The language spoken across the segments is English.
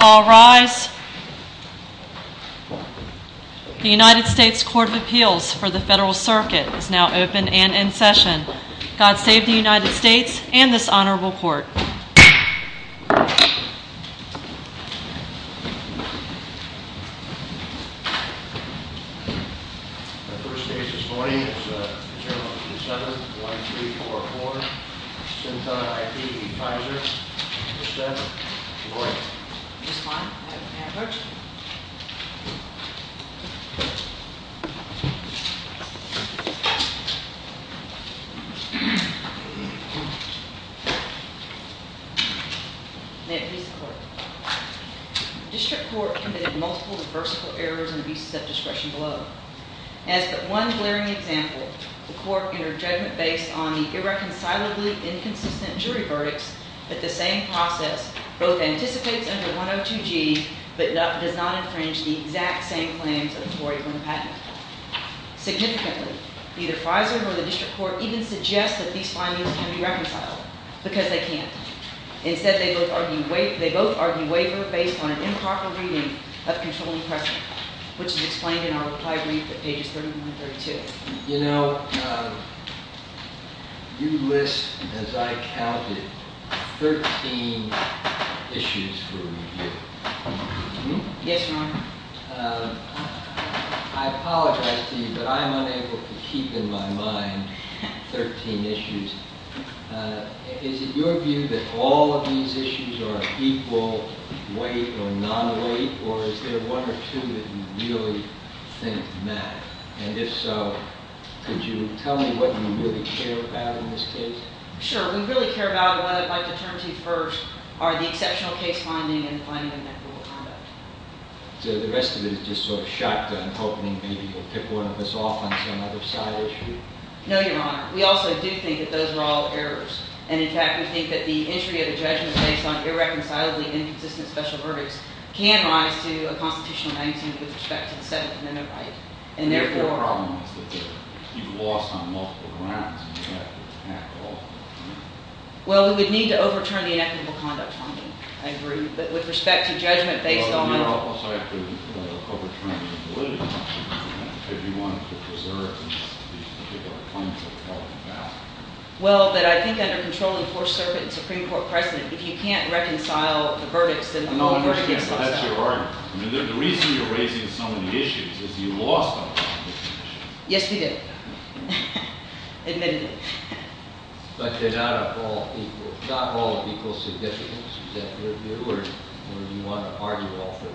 All rise. The United States Court of Appeals for the Federal Circuit is now open and in session. God save the United States and this honorable court. The first case this morning is adjournment to the 7th, 1-3-4-4, Synthon IP v. Pfizer, the 7th. Good morning. May it please the court. The district court committed multiple reversible errors and abuses of discretion below. As but one glaring example, the court entered judgment based on the irreconcilably inconsistent jury verdicts, but the same process both anticipates under 102G, but does not infringe the exact same claims of the 401 patent. Significantly, either Pfizer or the district court even suggest that these findings can be reconciled, because they can't. Instead, they both argue waiver based on an improper reading of controlling precedent, which is explained in our reply brief at pages 31 and 32. You know, you list, as I counted, 13 issues for review. Yes, Your Honor. I apologize to you, but I am unable to keep in my mind 13 issues. Is it your view that all of these issues are of equal weight or non-weight, or is there one or two that you really think matter? And if so, could you tell me what you really care about in this case? Sure. We really care about what I'd like to turn to first are the exceptional case finding and the finding of equitable conduct. So the rest of it is just sort of shotgun, hoping maybe you'll tip one of us off on some other side issue. No, Your Honor. We also do think that those are all errors. And in fact, we think that the entry of a judgment based on irreconcilably inconsistent special verdicts can rise to a constitutional 19 with respect to the 7th Amendment right. And therefore— The real problem is that you've lost on multiple grounds. Well, we would need to overturn the equitable conduct finding, I agree. But with respect to judgment based on— Well, I think under controlling the Fourth Circuit and Supreme Court precedent, if you can't reconcile the verdicts, then the whole verdict is— No, I understand, but that's your argument. I mean, the reason you're raising so many issues is you lost on all 13 issues. Yes, we did. Admittedly. But they're not all of equal significance. Is that your view, or do you want to argue all 13?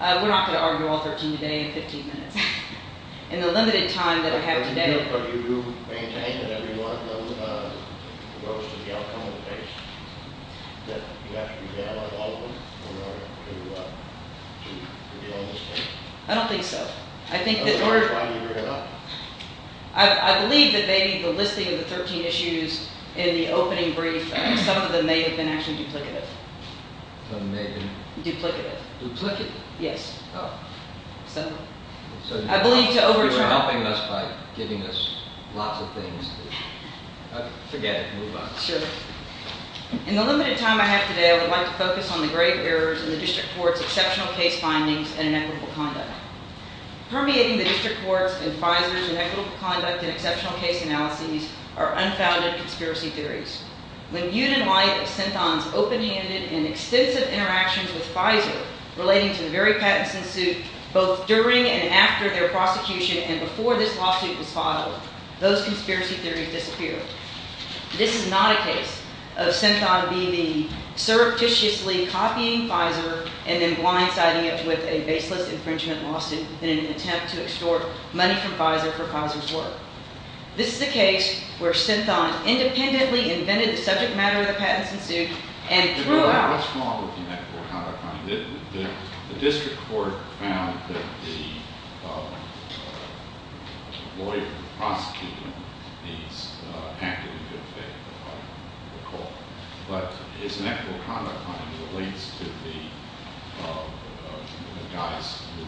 We're not going to argue all 13 today in 15 minutes. In the limited time that we have today— But you do maintain that every one of them goes to the outcome of the case. That you have to examine all of them in order to get on this case. I don't think so. I think that— That's why you're here, Your Honor. I believe that maybe the listing of the 13 issues in the opening brief, some of them may have been actually duplicative. Some of them may have been— Duplicative. Duplicative? Yes. Oh. I believe to overturn— You're helping us by giving us lots of things to— Forget it. Move on. Sure. In the limited time I have today, I would like to focus on the grave errors in the District Court's exceptional case findings and inequitable conduct. Permeating the District Court's and FISER's inequitable conduct and exceptional case analyses are unfounded conspiracy theories. When viewed in light of Senton's open-handed and extensive interactions with FISER relating to the very patents in suit, both during and after their prosecution and before this lawsuit was filed, those conspiracy theories disappeared. This is not a case of Senton being the surreptitiously copying FISER and then blindsiding it with a baseless infringement lawsuit in an attempt to extort money from FISER for FISER's work. This is a case where Senton independently invented the subject matter of the patents in suit and threw out— What's wrong with the inequitable conduct finding? The District Court found that the lawyer who was prosecuting these actively did a favorable finding, recall. But his inequitable conduct finding relates to the guys who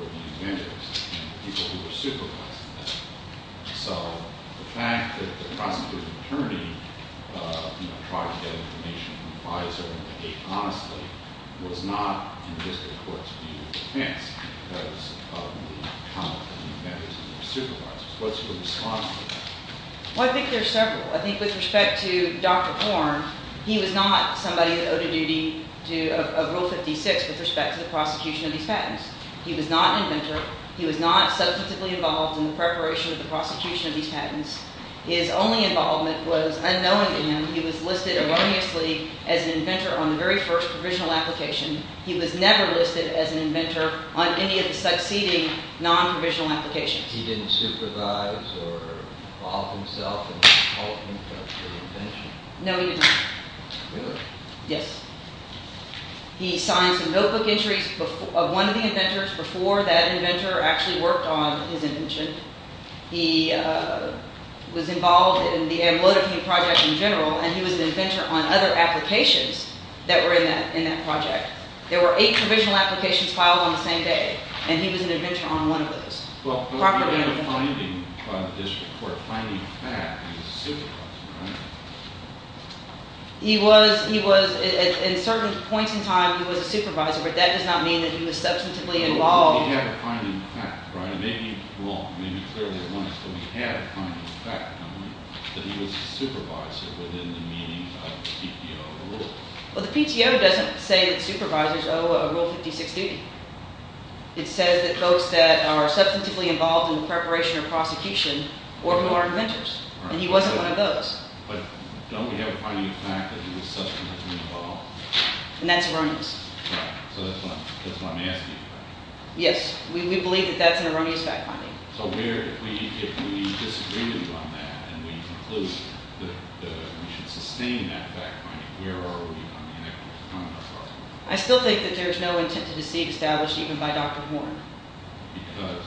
were the inventors and people who were supervising them. So the fact that the prosecutor's attorney tried to get information from FISER and behave honestly was not in the District Court's view of defense because of the conduct of the inventors and their supervisors. What's your response to that? Well, I think there are several. I think with respect to Dr. Horn, he was not somebody that owed a duty of Rule 56 with respect to the prosecution of these patents. He was not an inventor. He was not substantively involved in the preparation of the prosecution of these patents. His only involvement was, unknowingly, he was listed erroneously as an inventor on the very first provisional application. He was never listed as an inventor on any of the succeeding non-provisional applications. He didn't supervise or involve himself in the development of the invention? No, he did not. Really? Yes. He signed some notebook entries of one of the inventors before that inventor actually worked on his invention. He was involved in the Amlodovine Project in general, and he was an inventor on other applications that were in that project. There were eight provisional applications filed on the same day, and he was an inventor on one of those. Well, the way of finding, by the District Court, finding facts is supervised, right? He was. At certain points in time, he was a supervisor, but that does not mean that he was substantively involved. He had a finding of fact, right? Maybe wrong, maybe clearly wrong, but he had a finding of fact, that he was a supervisor within the meaning of the PTO rules. Well, the PTO doesn't say that supervisors owe a Rule 56 duty. It says that folks that are substantively involved in the preparation of prosecution or who are inventors, and he wasn't one of those. But don't we have a finding of fact that he was substantively involved? And that's erroneous. Right. So that's why I'm asking you that. Yes. We believe that that's an erroneous fact finding. Right. So if we disagree with you on that, and we conclude that we should sustain that fact finding, where are we on the inequity? I still think that there's no intent to deceive established even by Dr. Horne. Because?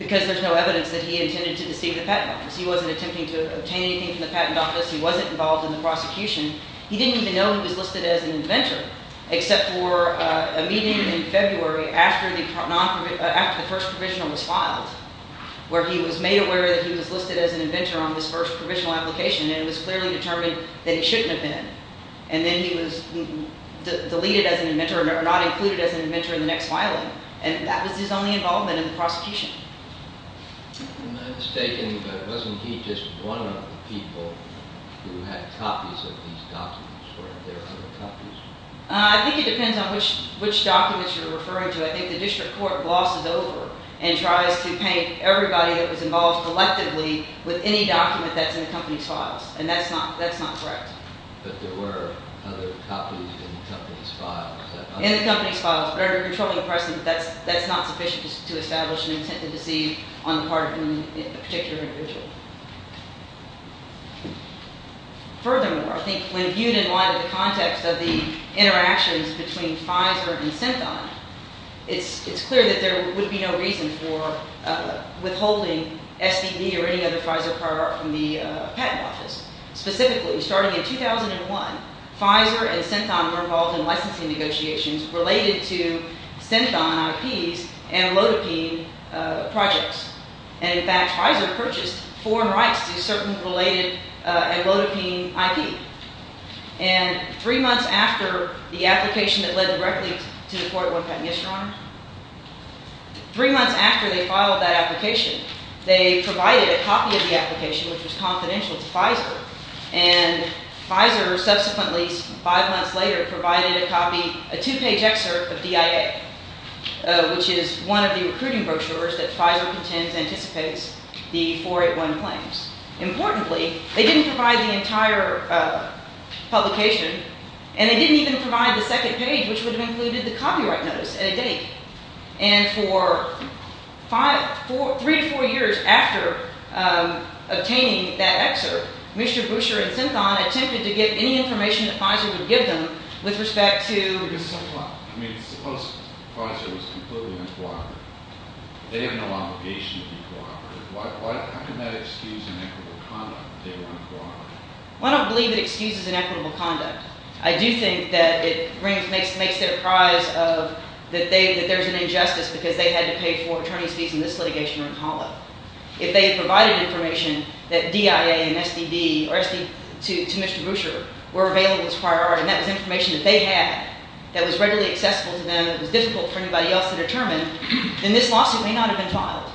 Because there's no evidence that he intended to deceive the patent office. He wasn't attempting to obtain anything from the patent office. He wasn't involved in the prosecution. He didn't even know he was listed as an inventor, except for a meeting in February after the first provisional was filed, where he was made aware that he was listed as an inventor on this first provisional application, and it was clearly determined that he shouldn't have been. And then he was deleted as an inventor or not included as an inventor in the next filing. And that was his only involvement in the prosecution. Am I mistaken, but wasn't he just one of the people who had copies of these documents? Were there other copies? I think it depends on which documents you're referring to. I think the district court glosses over and tries to paint everybody that was involved collectively with any document that's in the company's files. And that's not correct. But there were other copies in the company's files. In the company's files. But under controlling precedent, that's not sufficient to establish an intent to deceive on the part of a particular individual. Furthermore, I think when viewed in light of the context of the interactions between Pfizer and Synthon, it's clear that there would be no reason for withholding SPD or any other Pfizer product from the patent office. Specifically, starting in 2001, Pfizer and Synthon were involved in licensing negotiations related to Synthon IPs and Lodipine projects. And in fact, Pfizer purchased foreign rights to certain related and Lodipine IP. And three months after the application that led directly to the court, yes, Your Honor? Three months after they filed that application, they provided a copy of the application which was confidential to Pfizer. And Pfizer subsequently, five months later, provided a copy, a two-page excerpt of DIA, which is one of the recruiting brochures that Pfizer contends anticipates the 481 claims. Importantly, they didn't provide the entire publication. And they didn't even provide the second page which would have included the copyright notice and a date. And for three to four years after obtaining that excerpt, Mr. Boucher and Synthon attempted to get any information that Pfizer would give them with respect to I mean, suppose Pfizer was completely uncooperative. They didn't allow the patient to be cooperative. How can that excuse inequitable conduct if they weren't cooperative? I don't believe it excuses inequitable conduct. I do think that it makes it a prize that there's an injustice because they had to pay for attorney's fees in this litigation or in TALA. If they had provided information that DIA and SDB to Mr. Boucher were available as prior art, and that was information that they had that was readily accessible to them, it was difficult for anybody else to determine, then this lawsuit may not have been filed.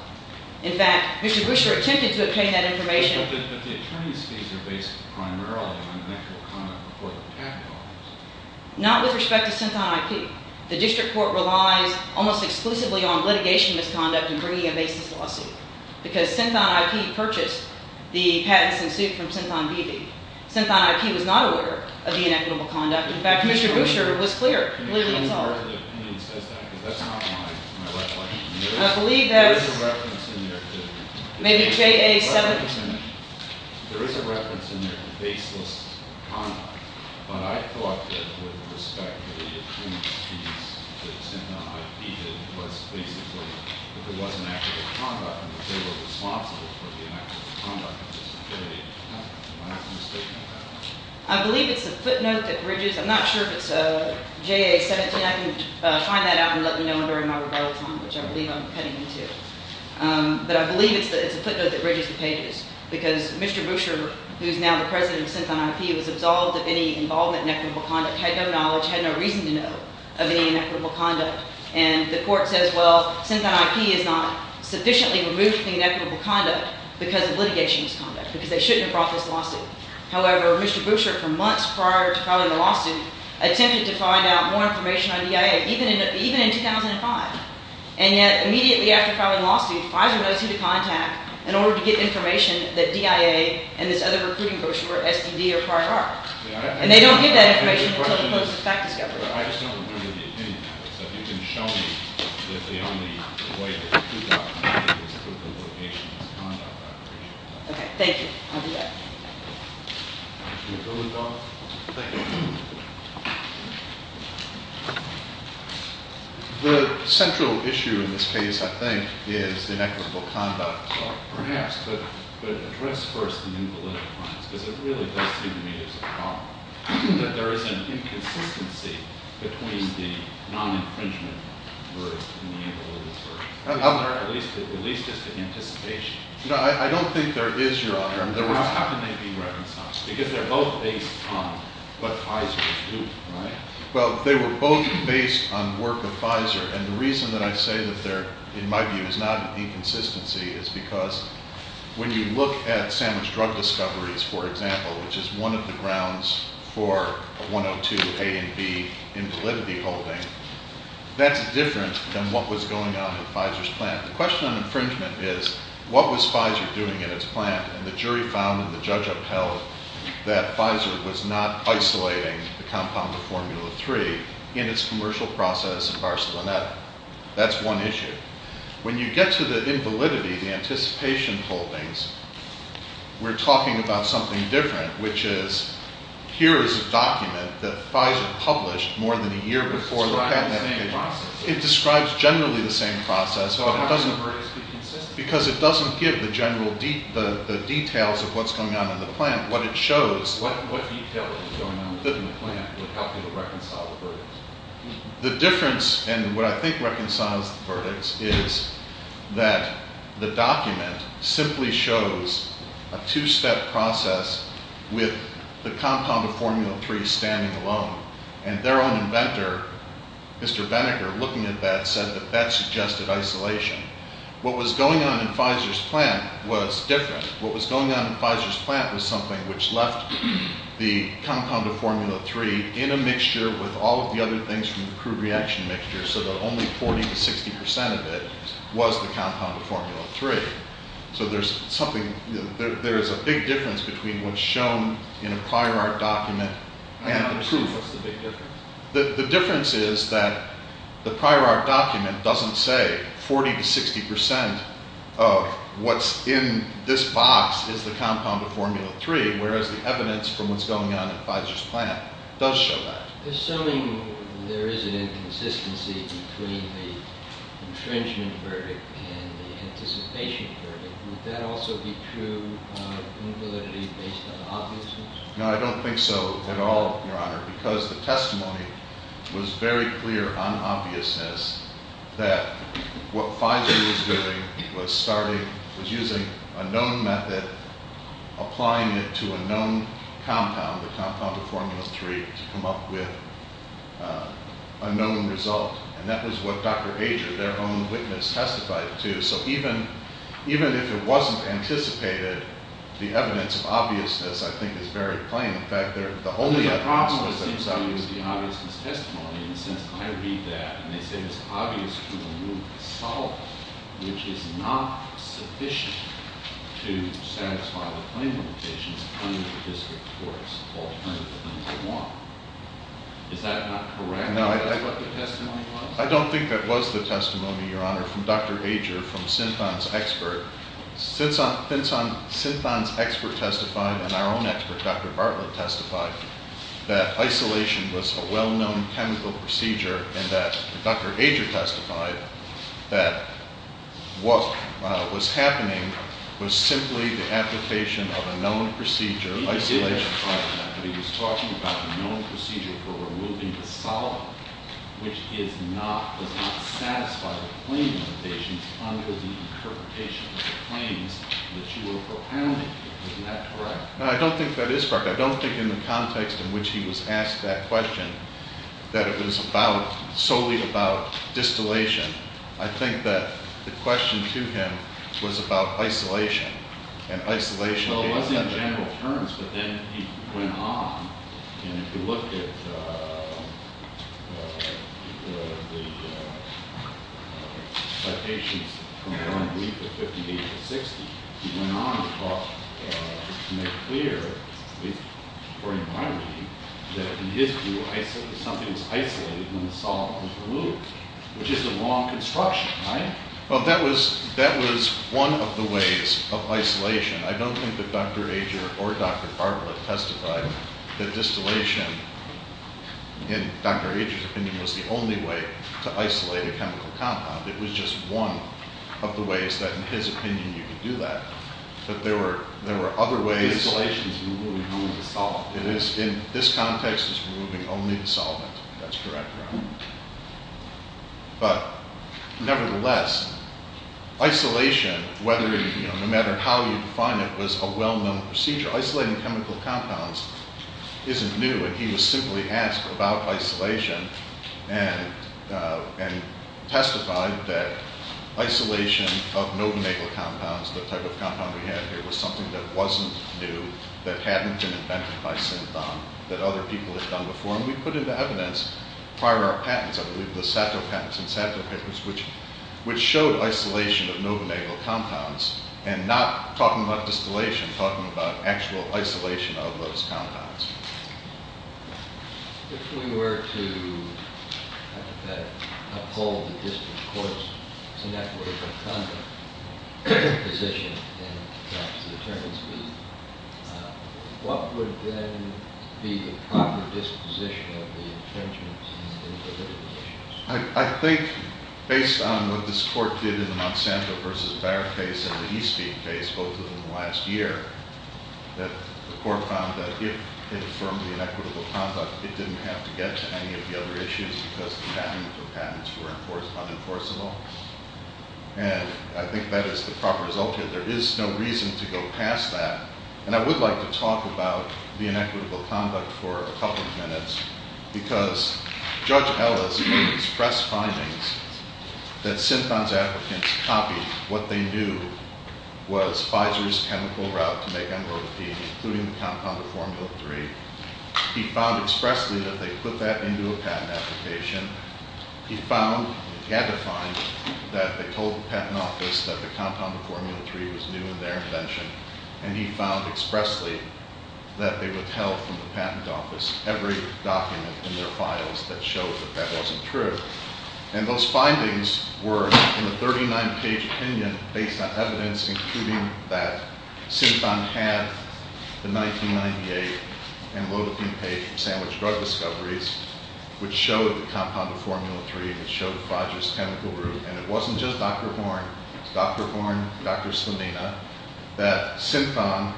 In fact, Mr. Boucher attempted to obtain that information. But the attorney's fees are based primarily on inequitable conduct before the patent office. Not with respect to Synthon IP. The district court relies almost exclusively on litigation misconduct in bringing a basis lawsuit because Synthon IP purchased the patents in suit from Synthon BB. Synthon IP was not aware of the inequitable conduct. In fact, Mr. Boucher was clear, completely insulted. Can you tell me where the opinion says that because that's not mine. I believe that was- There is a reference in there to- Maybe JA-17. There is a reference in there to baseless conduct. But I thought that with respect to the attorney's fees that Synthon IP did was basically that there was inequitable conduct and that they were responsible for the inequitable conduct of this affiliated company. Am I mistaken about that? I believe it's the footnote that bridges. I'm not sure if it's JA-17. Hopefully I can find that out and let you know during my rebuttal time, which I believe I'm cutting into. But I believe it's the footnote that bridges the pages because Mr. Boucher, who is now the president of Synthon IP, was absolved of any involvement in inequitable conduct, had no knowledge, had no reason to know of any inequitable conduct. And the court says, well, Synthon IP is not sufficiently removed from inequitable conduct because of litigation misconduct, because they shouldn't have brought this lawsuit. However, Mr. Boucher, for months prior to filing the lawsuit, attempted to find out more information on DIA, even in 2005. And yet, immediately after filing the lawsuit, FISER knows who to contact in order to get information that DIA and this other recruiting brochure, STD, are part of. And they don't give that information until they close the fact discovery. I just don't agree with the opinion of it. So if you can show me the way that you documented this equivocation in this conduct operation. Okay. Thank you. I'll do that. Mr. Boulidoff? Thank you. The central issue in this case, I think, is inequitable conduct. Perhaps, but address first the new political crimes. Because it really does seem to me as a problem. That there is an inconsistency between the non-infringement words and the invalid words. At least as to anticipation. No, I don't think there is, Your Honor. How can they be reconciled? Because they're both based on what FISER is doing, right? Well, they were both based on work of FISER. And the reason that I say that there, in my view, is not an inconsistency, is because when you look at Sandwich Drug Discoveries, for example, which is one of the grounds for a 102 A and B invalidity holding, that's different than what was going on at FISER's plant. The question on infringement is, what was FISER doing at its plant? And the jury found and the judge upheld that FISER was not isolating the compound of Formula 3 in its commercial process in Barcelona. That's one issue. When you get to the invalidity, the anticipation holdings, we're talking about something different, which is, here is a document that FISER published more than a year before the patent. It describes generally the same process. Because it doesn't give the general details of what's going on in the plant. What it shows... The difference, and what I think reconciles the verdicts, is that the document simply shows a two-step process with the compound of Formula 3 standing alone. And their own inventor, Mr. Benninger, looking at that, said that that suggested isolation. What was going on in FISER's plant was different. What was going on in FISER's plant was something which left the compound of Formula 3 in a mixture with all of the other things from the crude reaction mixture, so that only 40 to 60% of it was the compound of Formula 3. So there's something... There is a big difference between what's shown in a prior art document and the proof. What's the big difference? The difference is that the prior art document doesn't say 40 to 60% of what's in this box is the compound of Formula 3, whereas the evidence from what's going on in FISER's plant does show that. Assuming there is an inconsistency between the infringement verdict and the anticipation verdict, would that also be true invalidity based on obviousness? No, I don't think so at all, Your Honor, because the testimony was very clear on obviousness that what FISER was doing was using a known method, applying it to a known compound, the compound of Formula 3, to come up with a known result, and that was what Dr. Ager, their own witness, testified to. So even if it wasn't anticipated, the evidence of obviousness, I think, is very plain. The problem, it seems to me, is the obviousness testimony. In a sense, I read that, and they say it's obvious to remove the solvent, which is not sufficient to satisfy the claim limitations under the District Court's alternative number one. Is that not correct? I don't think that was the testimony, Your Honor, from Dr. Ager, from Synthon's expert. Synthon's expert testified, and our own expert, Dr. Bartlett, testified that isolation was a well-known chemical procedure and that Dr. Ager testified that what was happening was simply the application of a known procedure, isolation. He didn't apply the method. He was talking about the known procedure for removing the solvent, which does not satisfy the claim limitations under the interpretation of the claims that you were propounding. Isn't that correct? No, I don't think that is correct. I don't think in the context in which he was asked that question that it was about, solely about, distillation. I think that the question to him was about isolation, and isolation gave him that. Well, it was in general terms, but then he went on, and if you looked at the citations from John Greif at 58 to 60, he went on to make clear, according to my reading, that in his view, something is isolated when the solvent is removed, which is the law of construction, right? Well, that was one of the ways of isolation. I don't think that Dr. Ager or Dr. Bartlett testified that distillation, in Dr. Ager's opinion, was the only way to isolate a chemical compound. It was just one of the ways that, in his opinion, you could do that. But there were other ways. Distillation is removing only the solvent. It is. In this context, it's removing only the solvent. That's correct. But nevertheless, isolation, no matter how you define it, was a well-known procedure. Isolating chemical compounds isn't new, and he was simply asked about isolation and testified that isolation of novenagel compounds, the type of compound we have here, was something that wasn't new, that hadn't been invented by synthon, that other people had done before, and we put into evidence prior art patents, I believe the Satto patents and Satto papers, which showed isolation of novenagel compounds and not talking about distillation, talking about actual isolation of those compounds. If we were to uphold the district court's inequitable conduct position in terms of the attorney's view, what would then be the proper disposition of the attorney's view of the issues? I think, based on what this court did in the Monsanto versus Barr case and the Eastgate case, both of them last year, that the court found that if it affirmed the inequitable conduct, it didn't have to get to any of the other issues because the magnitude of patents were unenforceable, and I think that is the proper result here. There is no reason to go past that, and I would like to talk about the inequitable conduct for a couple of minutes because Judge Ellis expressed findings that synthon's advocates copied. What they knew was Pfizer's chemical route to make mROTP, including the compound of Formula 3. He found expressly that they put that into a patent application. He found, he had to find, that they told the patent office that the compound of Formula 3 was new in their invention, and he found expressly that they withheld from the patent office every document in their files that showed that that wasn't true, and those findings were in a 39-page opinion based on evidence including that synthon had the 1998 and low-doping page from Sandwich Drug Discoveries which showed the compound of Formula 3, which showed Pfizer's chemical route, and it wasn't just Dr. Horn. It was Dr. Horn, Dr. Slimina, that synthon,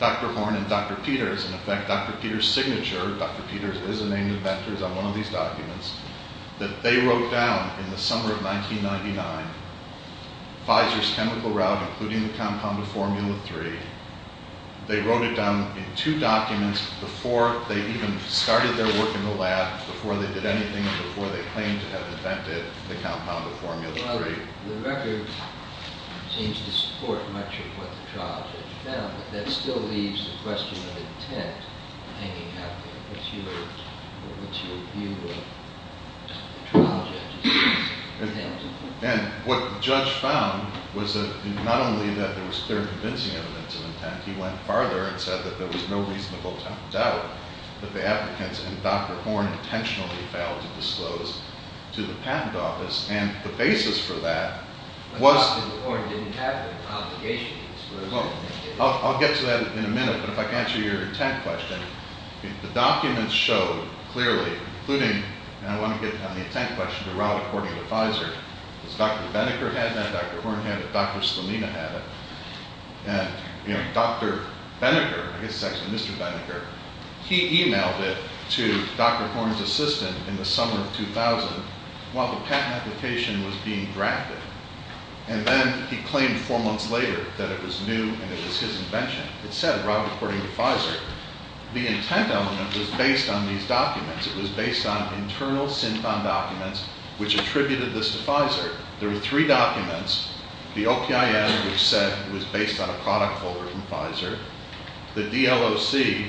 Dr. Horn, and Dr. Peters, and in fact, Dr. Peters' signature, Dr. Peters is the name inventors on one of these documents, that they wrote down in the summer of 1999, Pfizer's chemical route including the compound of Formula 3. They wrote it down in two documents before they even started their work in the lab, before they did anything, and before they claimed to have invented the compound of Formula 3. Well, the record seems to support much of what the trial judge found, but that still leaves the question of intent hanging out there. What's your view of the trial judge's intent? And what the judge found was that not only that there was clear convincing evidence of intent, he went farther and said that there was no reasonable doubt that the applicants and Dr. Horn intentionally failed to disclose to the patent office, and the basis for that was... But Dr. Horn didn't have an obligation to disclose. I'll get to that in a minute, but if I can answer your intent question. The documents show clearly, including, and I want to get on the intent question, the route according to Pfizer, is Dr. Benneker had that, Dr. Horn had it, Dr. Slamina had it, and Dr. Benneker, I guess it's actually Mr. Benneker, he emailed it to Dr. Horn's assistant in the summer of 2000 while the patent application was being drafted, and then he claimed four months later that it was new and it was his invention. It said route according to Pfizer. The intent element was based on these documents. It was based on internal SINFON documents which attributed this to Pfizer. There were three documents, the OPIN, which said it was based on a product forward from Pfizer, the DLOC,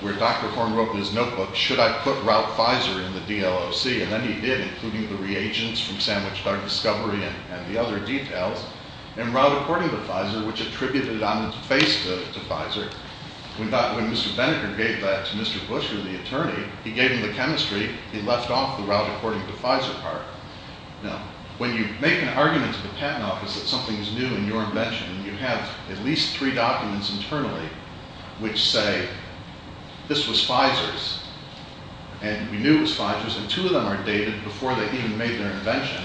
where Dr. Horn wrote in his notebook, should I put route Pfizer in the DLOC, and then he did, including the reagents from Sandwich Dog Discovery and the other details, and route according to Pfizer, which attributed it on its face to Pfizer. When Mr. Benneker gave that to Mr. Bush or the attorney, he gave him the chemistry, he left off the route according to Pfizer part. Now, when you make an argument to the patent office that something is new in your invention, and you have at least three documents internally which say this was Pfizer's, and we knew it was Pfizer's, and two of them are dated before they even made their invention,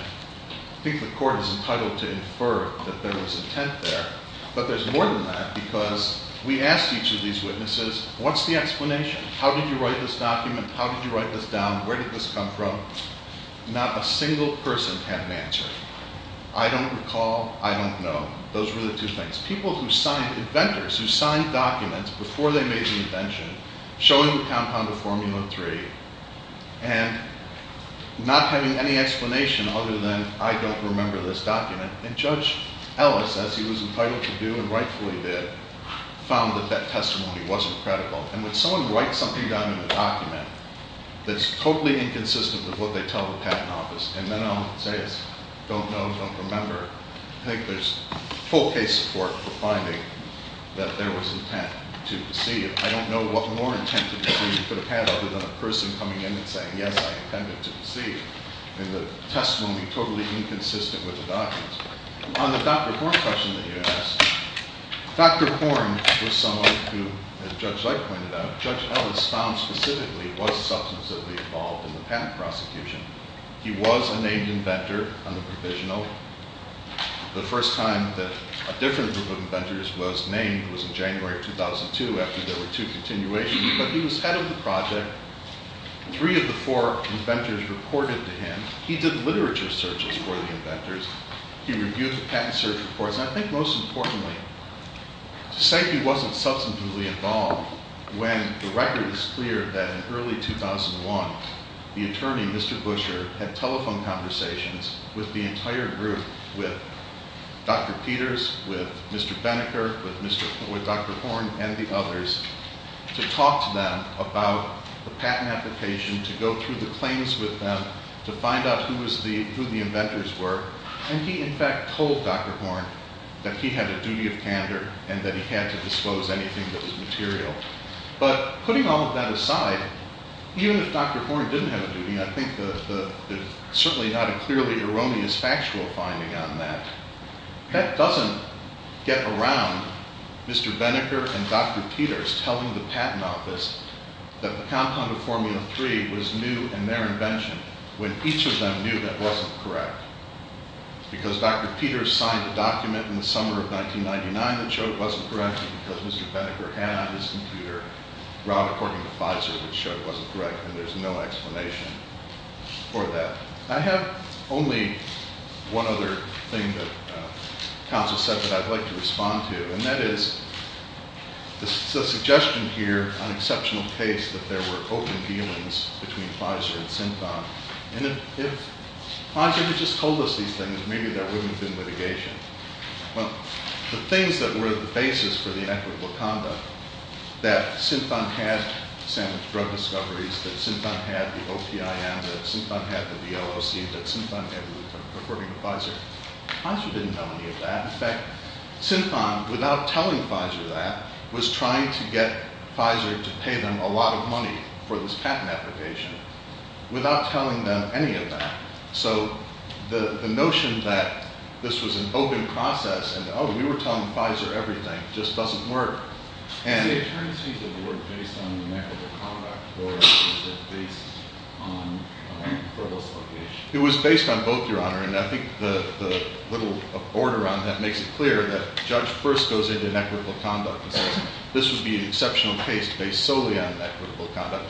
I think the court is entitled to infer that there was intent there, but there's more than that, because we asked each of these witnesses, what's the explanation? How did you write this document? How did you write this down? Where did this come from? Not a single person had an answer. I don't recall, I don't know. Those were the two things. People who signed, inventors who signed documents before they made the invention, showing the compound of Formula 3, and not having any explanation other than I don't remember this document, and Judge Ellis, as he was entitled to do, and rightfully did, found that that testimony wasn't credible. And when someone writes something down in a document that's totally inconsistent with what they tell the patent office, and then all it says is don't know, don't remember, I think there's full case support for finding that there was intent to deceive. I don't know what more intent to deceive you could have had other than a person coming in and saying, yes, I intended to deceive, and the testimony totally inconsistent with the documents. On the Dr. Horne question that you asked, Dr. Horne was someone who, as Judge Zeit pointed out, Judge Ellis found specifically was substantively involved in the patent prosecution. He was a named inventor on the provisional. The first time that a different group of inventors was named was in January of 2002 after there were two continuations, but he was head of the project. Three of the four inventors reported to him. He did literature searches for the inventors. He reviewed the patent search reports. And I think most importantly, to say he wasn't substantively involved when the record is clear that in early 2001, the attorney, Mr. Busher, had telephone conversations with the entire group, with Dr. Peters, with Mr. Benecker, with Dr. Horne, and the others, to talk to them about the patent application, to go through the claims with them, to find out who the inventors were. And he, in fact, told Dr. Horne that he had a duty of candor and that he had to disclose anything that was material. But putting all of that aside, even if Dr. Horne didn't have a duty, I think there's certainly not a clearly erroneous factual finding on that. That doesn't get around to Mr. Benecker and Dr. Peters telling the patent office that the compound of Formula 3 was new in their invention when each of them knew that wasn't correct. Because Dr. Peters signed a document in the summer of 1999 that showed it wasn't correct, and because Mr. Benecker had on his computer a route according to Pfizer that showed it wasn't correct, and there's no explanation for that. I have only one other thing that counsel said that I'd like to respond to, and that is the suggestion here on exceptional case that there were open dealings between Pfizer and Synthon. And if Pfizer had just told us these things, maybe there wouldn't have been litigation. Well, the things that were the basis for the inequitable conduct, that Synthon had sandwich drug discoveries, that Synthon had the OPIM, that Synthon had the VLOC, that Synthon had the route according to Pfizer, Pfizer didn't know any of that. In fact, Synthon, without telling Pfizer that, was trying to get Pfizer to pay them a lot of money for this patent application without telling them any of that. So the notion that this was an open process and, oh, we were telling Pfizer everything just doesn't work. And... Is the attorneys' case a work based on inequitable conduct It was based on both, Your Honor, and I think the little border on that makes it clear that the judge first goes into inequitable conduct and says this would be an exceptional case based solely on inequitable conduct.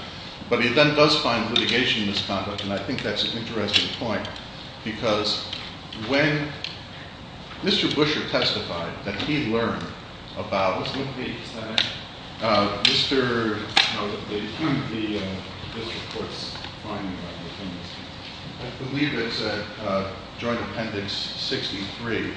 But he then does find litigation in this conduct, and I think that's an interesting point, because when Mr. Busher testified that he learned about... What's his name again? Mr... No, the human... The district court's finding on the human... I believe it's at Joint Appendix 63.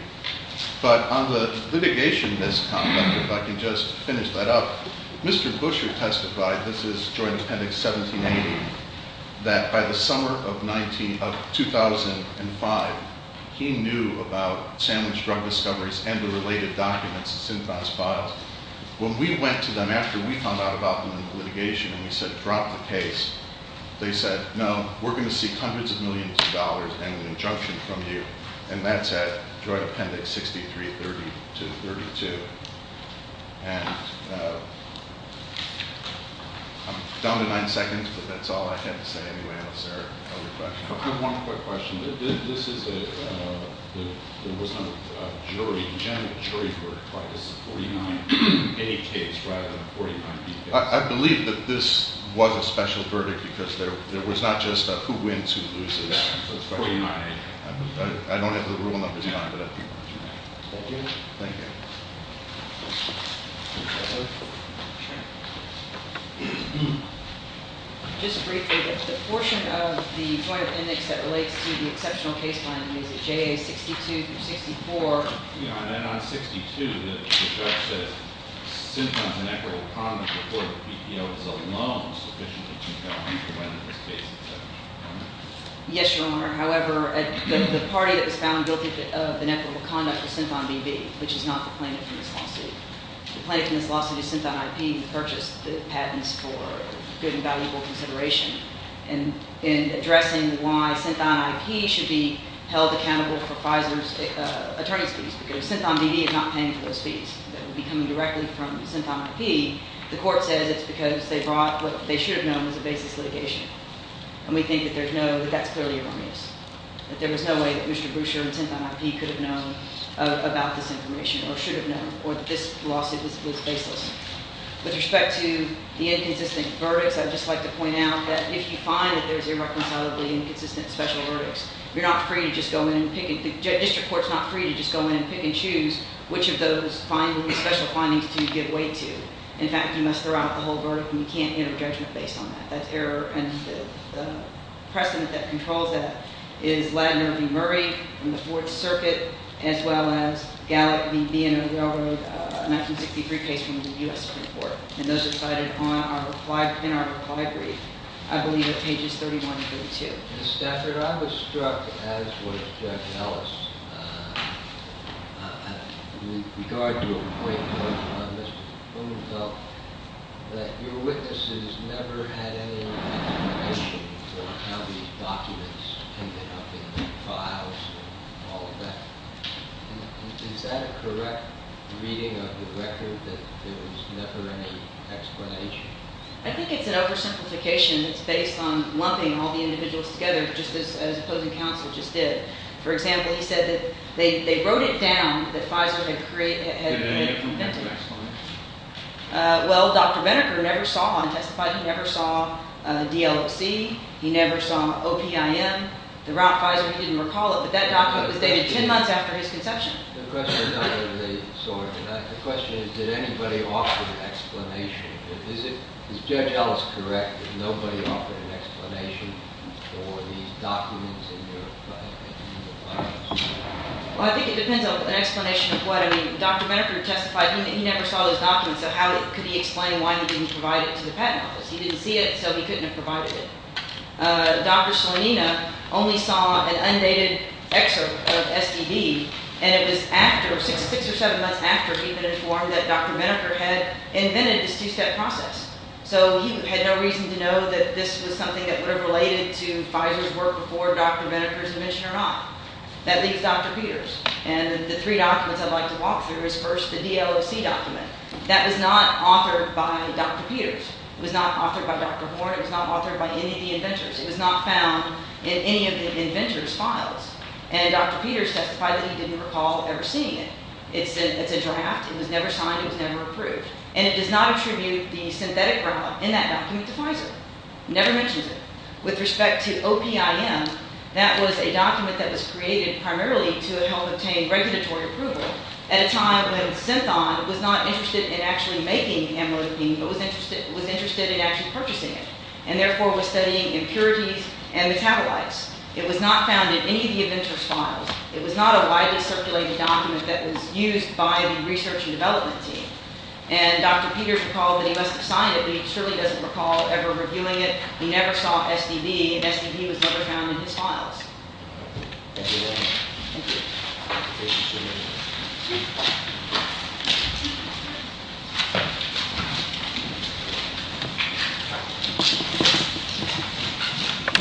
But on the litigation misconduct, if I can just finish that up, Mr. Busher testified, this is Joint Appendix 1780, that by the summer of 2005, he knew about sandwich drug discoveries and the related documents in Synthon's files. When we went to them after we found out about them in litigation and we said, drop the case, they said, no, we're going to seek hundreds of millions of dollars and an injunction from you. And that's at Joint Appendix 63-32. And... I'm down to nine seconds, but that's all I had to say anyway, unless there are other questions. I have one quick question. This is a... There was no jury. The general jury for this 49A case rather than the 49B case. I believe that this was a special verdict because there was not just a who wins, who loses. 49A. I don't have the rule numbers. Thank you. Thank you. Just briefly, the portion of the Joint Appendix that relates to the exceptional case planning is at JA 62-64. Yeah, and then on 62, the judge said Synthon's inequitable conduct before the BPO was alone was sufficiently to count for when this case is settled. Yes, Your Honor. However, the party that was found guilty of inequitable conduct was Synthon B.B., which is not the plaintiff in this lawsuit. The plaintiff in this lawsuit is Synthon I.P. who purchased the patents for good and valuable consideration should be held accountable for Pfizer's attorney's fees because if Synthon B.B. is not paying for those fees that would be coming directly from Synthon I.P., the court says it's because they brought what they should have known as a baseless litigation. And we think that that's clearly a wrong use, that there was no way that Mr. Boucher and Synthon I.P. could have known about this information or should have known or that this lawsuit was baseless. With respect to the inconsistent verdicts, I'd just like to point out that if you find that there's irreconcilably inconsistent special verdicts, you're not free to just go in and pick it. The district court's not free to just go in and pick and choose which of those special findings to give weight to. In fact, you must throw out the whole verdict and you can't enter judgment based on that. That's error and the precedent that controls that is Ladner v. Murray from the Fourth Circuit as well as Gallup v. Villanueva, a 1963 case from the U.S. Supreme Court. And those are cited in our reply brief, I believe at pages 31 and 32. Ms. Stafford, I was struck, as was Jeff Ellis, with regard to a report on Mr. Blumenthal, that your witnesses never had any explanation for how these documents ended up in the files and all of that. Is that a correct reading of the record that there was never any explanation? I think it's an oversimplification that's based on lumping all the individuals together just as the opposing counsel just did. For example, he said that they wrote it down that Pfizer had invented it. Did any of them have an explanation? Well, Dr. Benneker never saw one, testified he never saw the DLOC. He never saw OPIM. The route Pfizer, he didn't recall it, but that document was dated 10 months after his conception. The question is, did anybody offer an explanation? Is Judge Ellis correct that nobody offered an explanation for these documents in your files? Well, I think it depends on an explanation of what. I mean, Dr. Benneker testified he never saw those documents, so how could he explain why he didn't provide it to the patent office? He didn't see it, so he couldn't have provided it. Dr. Salamina only saw an undated excerpt of STD, and it was after, six or seven months after, he'd been informed that Dr. Benneker had invented this two-step process. So he had no reason to know that this was something that were related to Pfizer's work before Dr. Benneker's invention or not. That leaves Dr. Peters. And the three documents I'd like to walk through is, first, the DLOC document. That was not authored by Dr. Peters. It was not authored by Dr. Horne. It was not authored by any of the inventors. It was not found in any of the inventors' files. And Dr. Peters testified that he didn't recall ever seeing it. It's a draft. It was never signed. It was never approved. And it does not attribute the synthetic revalidant in that document to Pfizer. Never mentions it. With respect to OPIN, that was a document that was created primarily to help obtain regulatory approval at a time when Synthon was not interested in actually making the amyloidopine, but was interested in actually purchasing it, and therefore was studying impurities and metabolites. It was not found in any of the inventors' files. It was not a widely circulated document that was used by the research and development team. And Dr. Peters recalled that he must have signed it, but he surely doesn't recall ever reviewing it. He never saw SDV, and SDV was never found in his files. Thank you very much. Thank you. Thank you so much.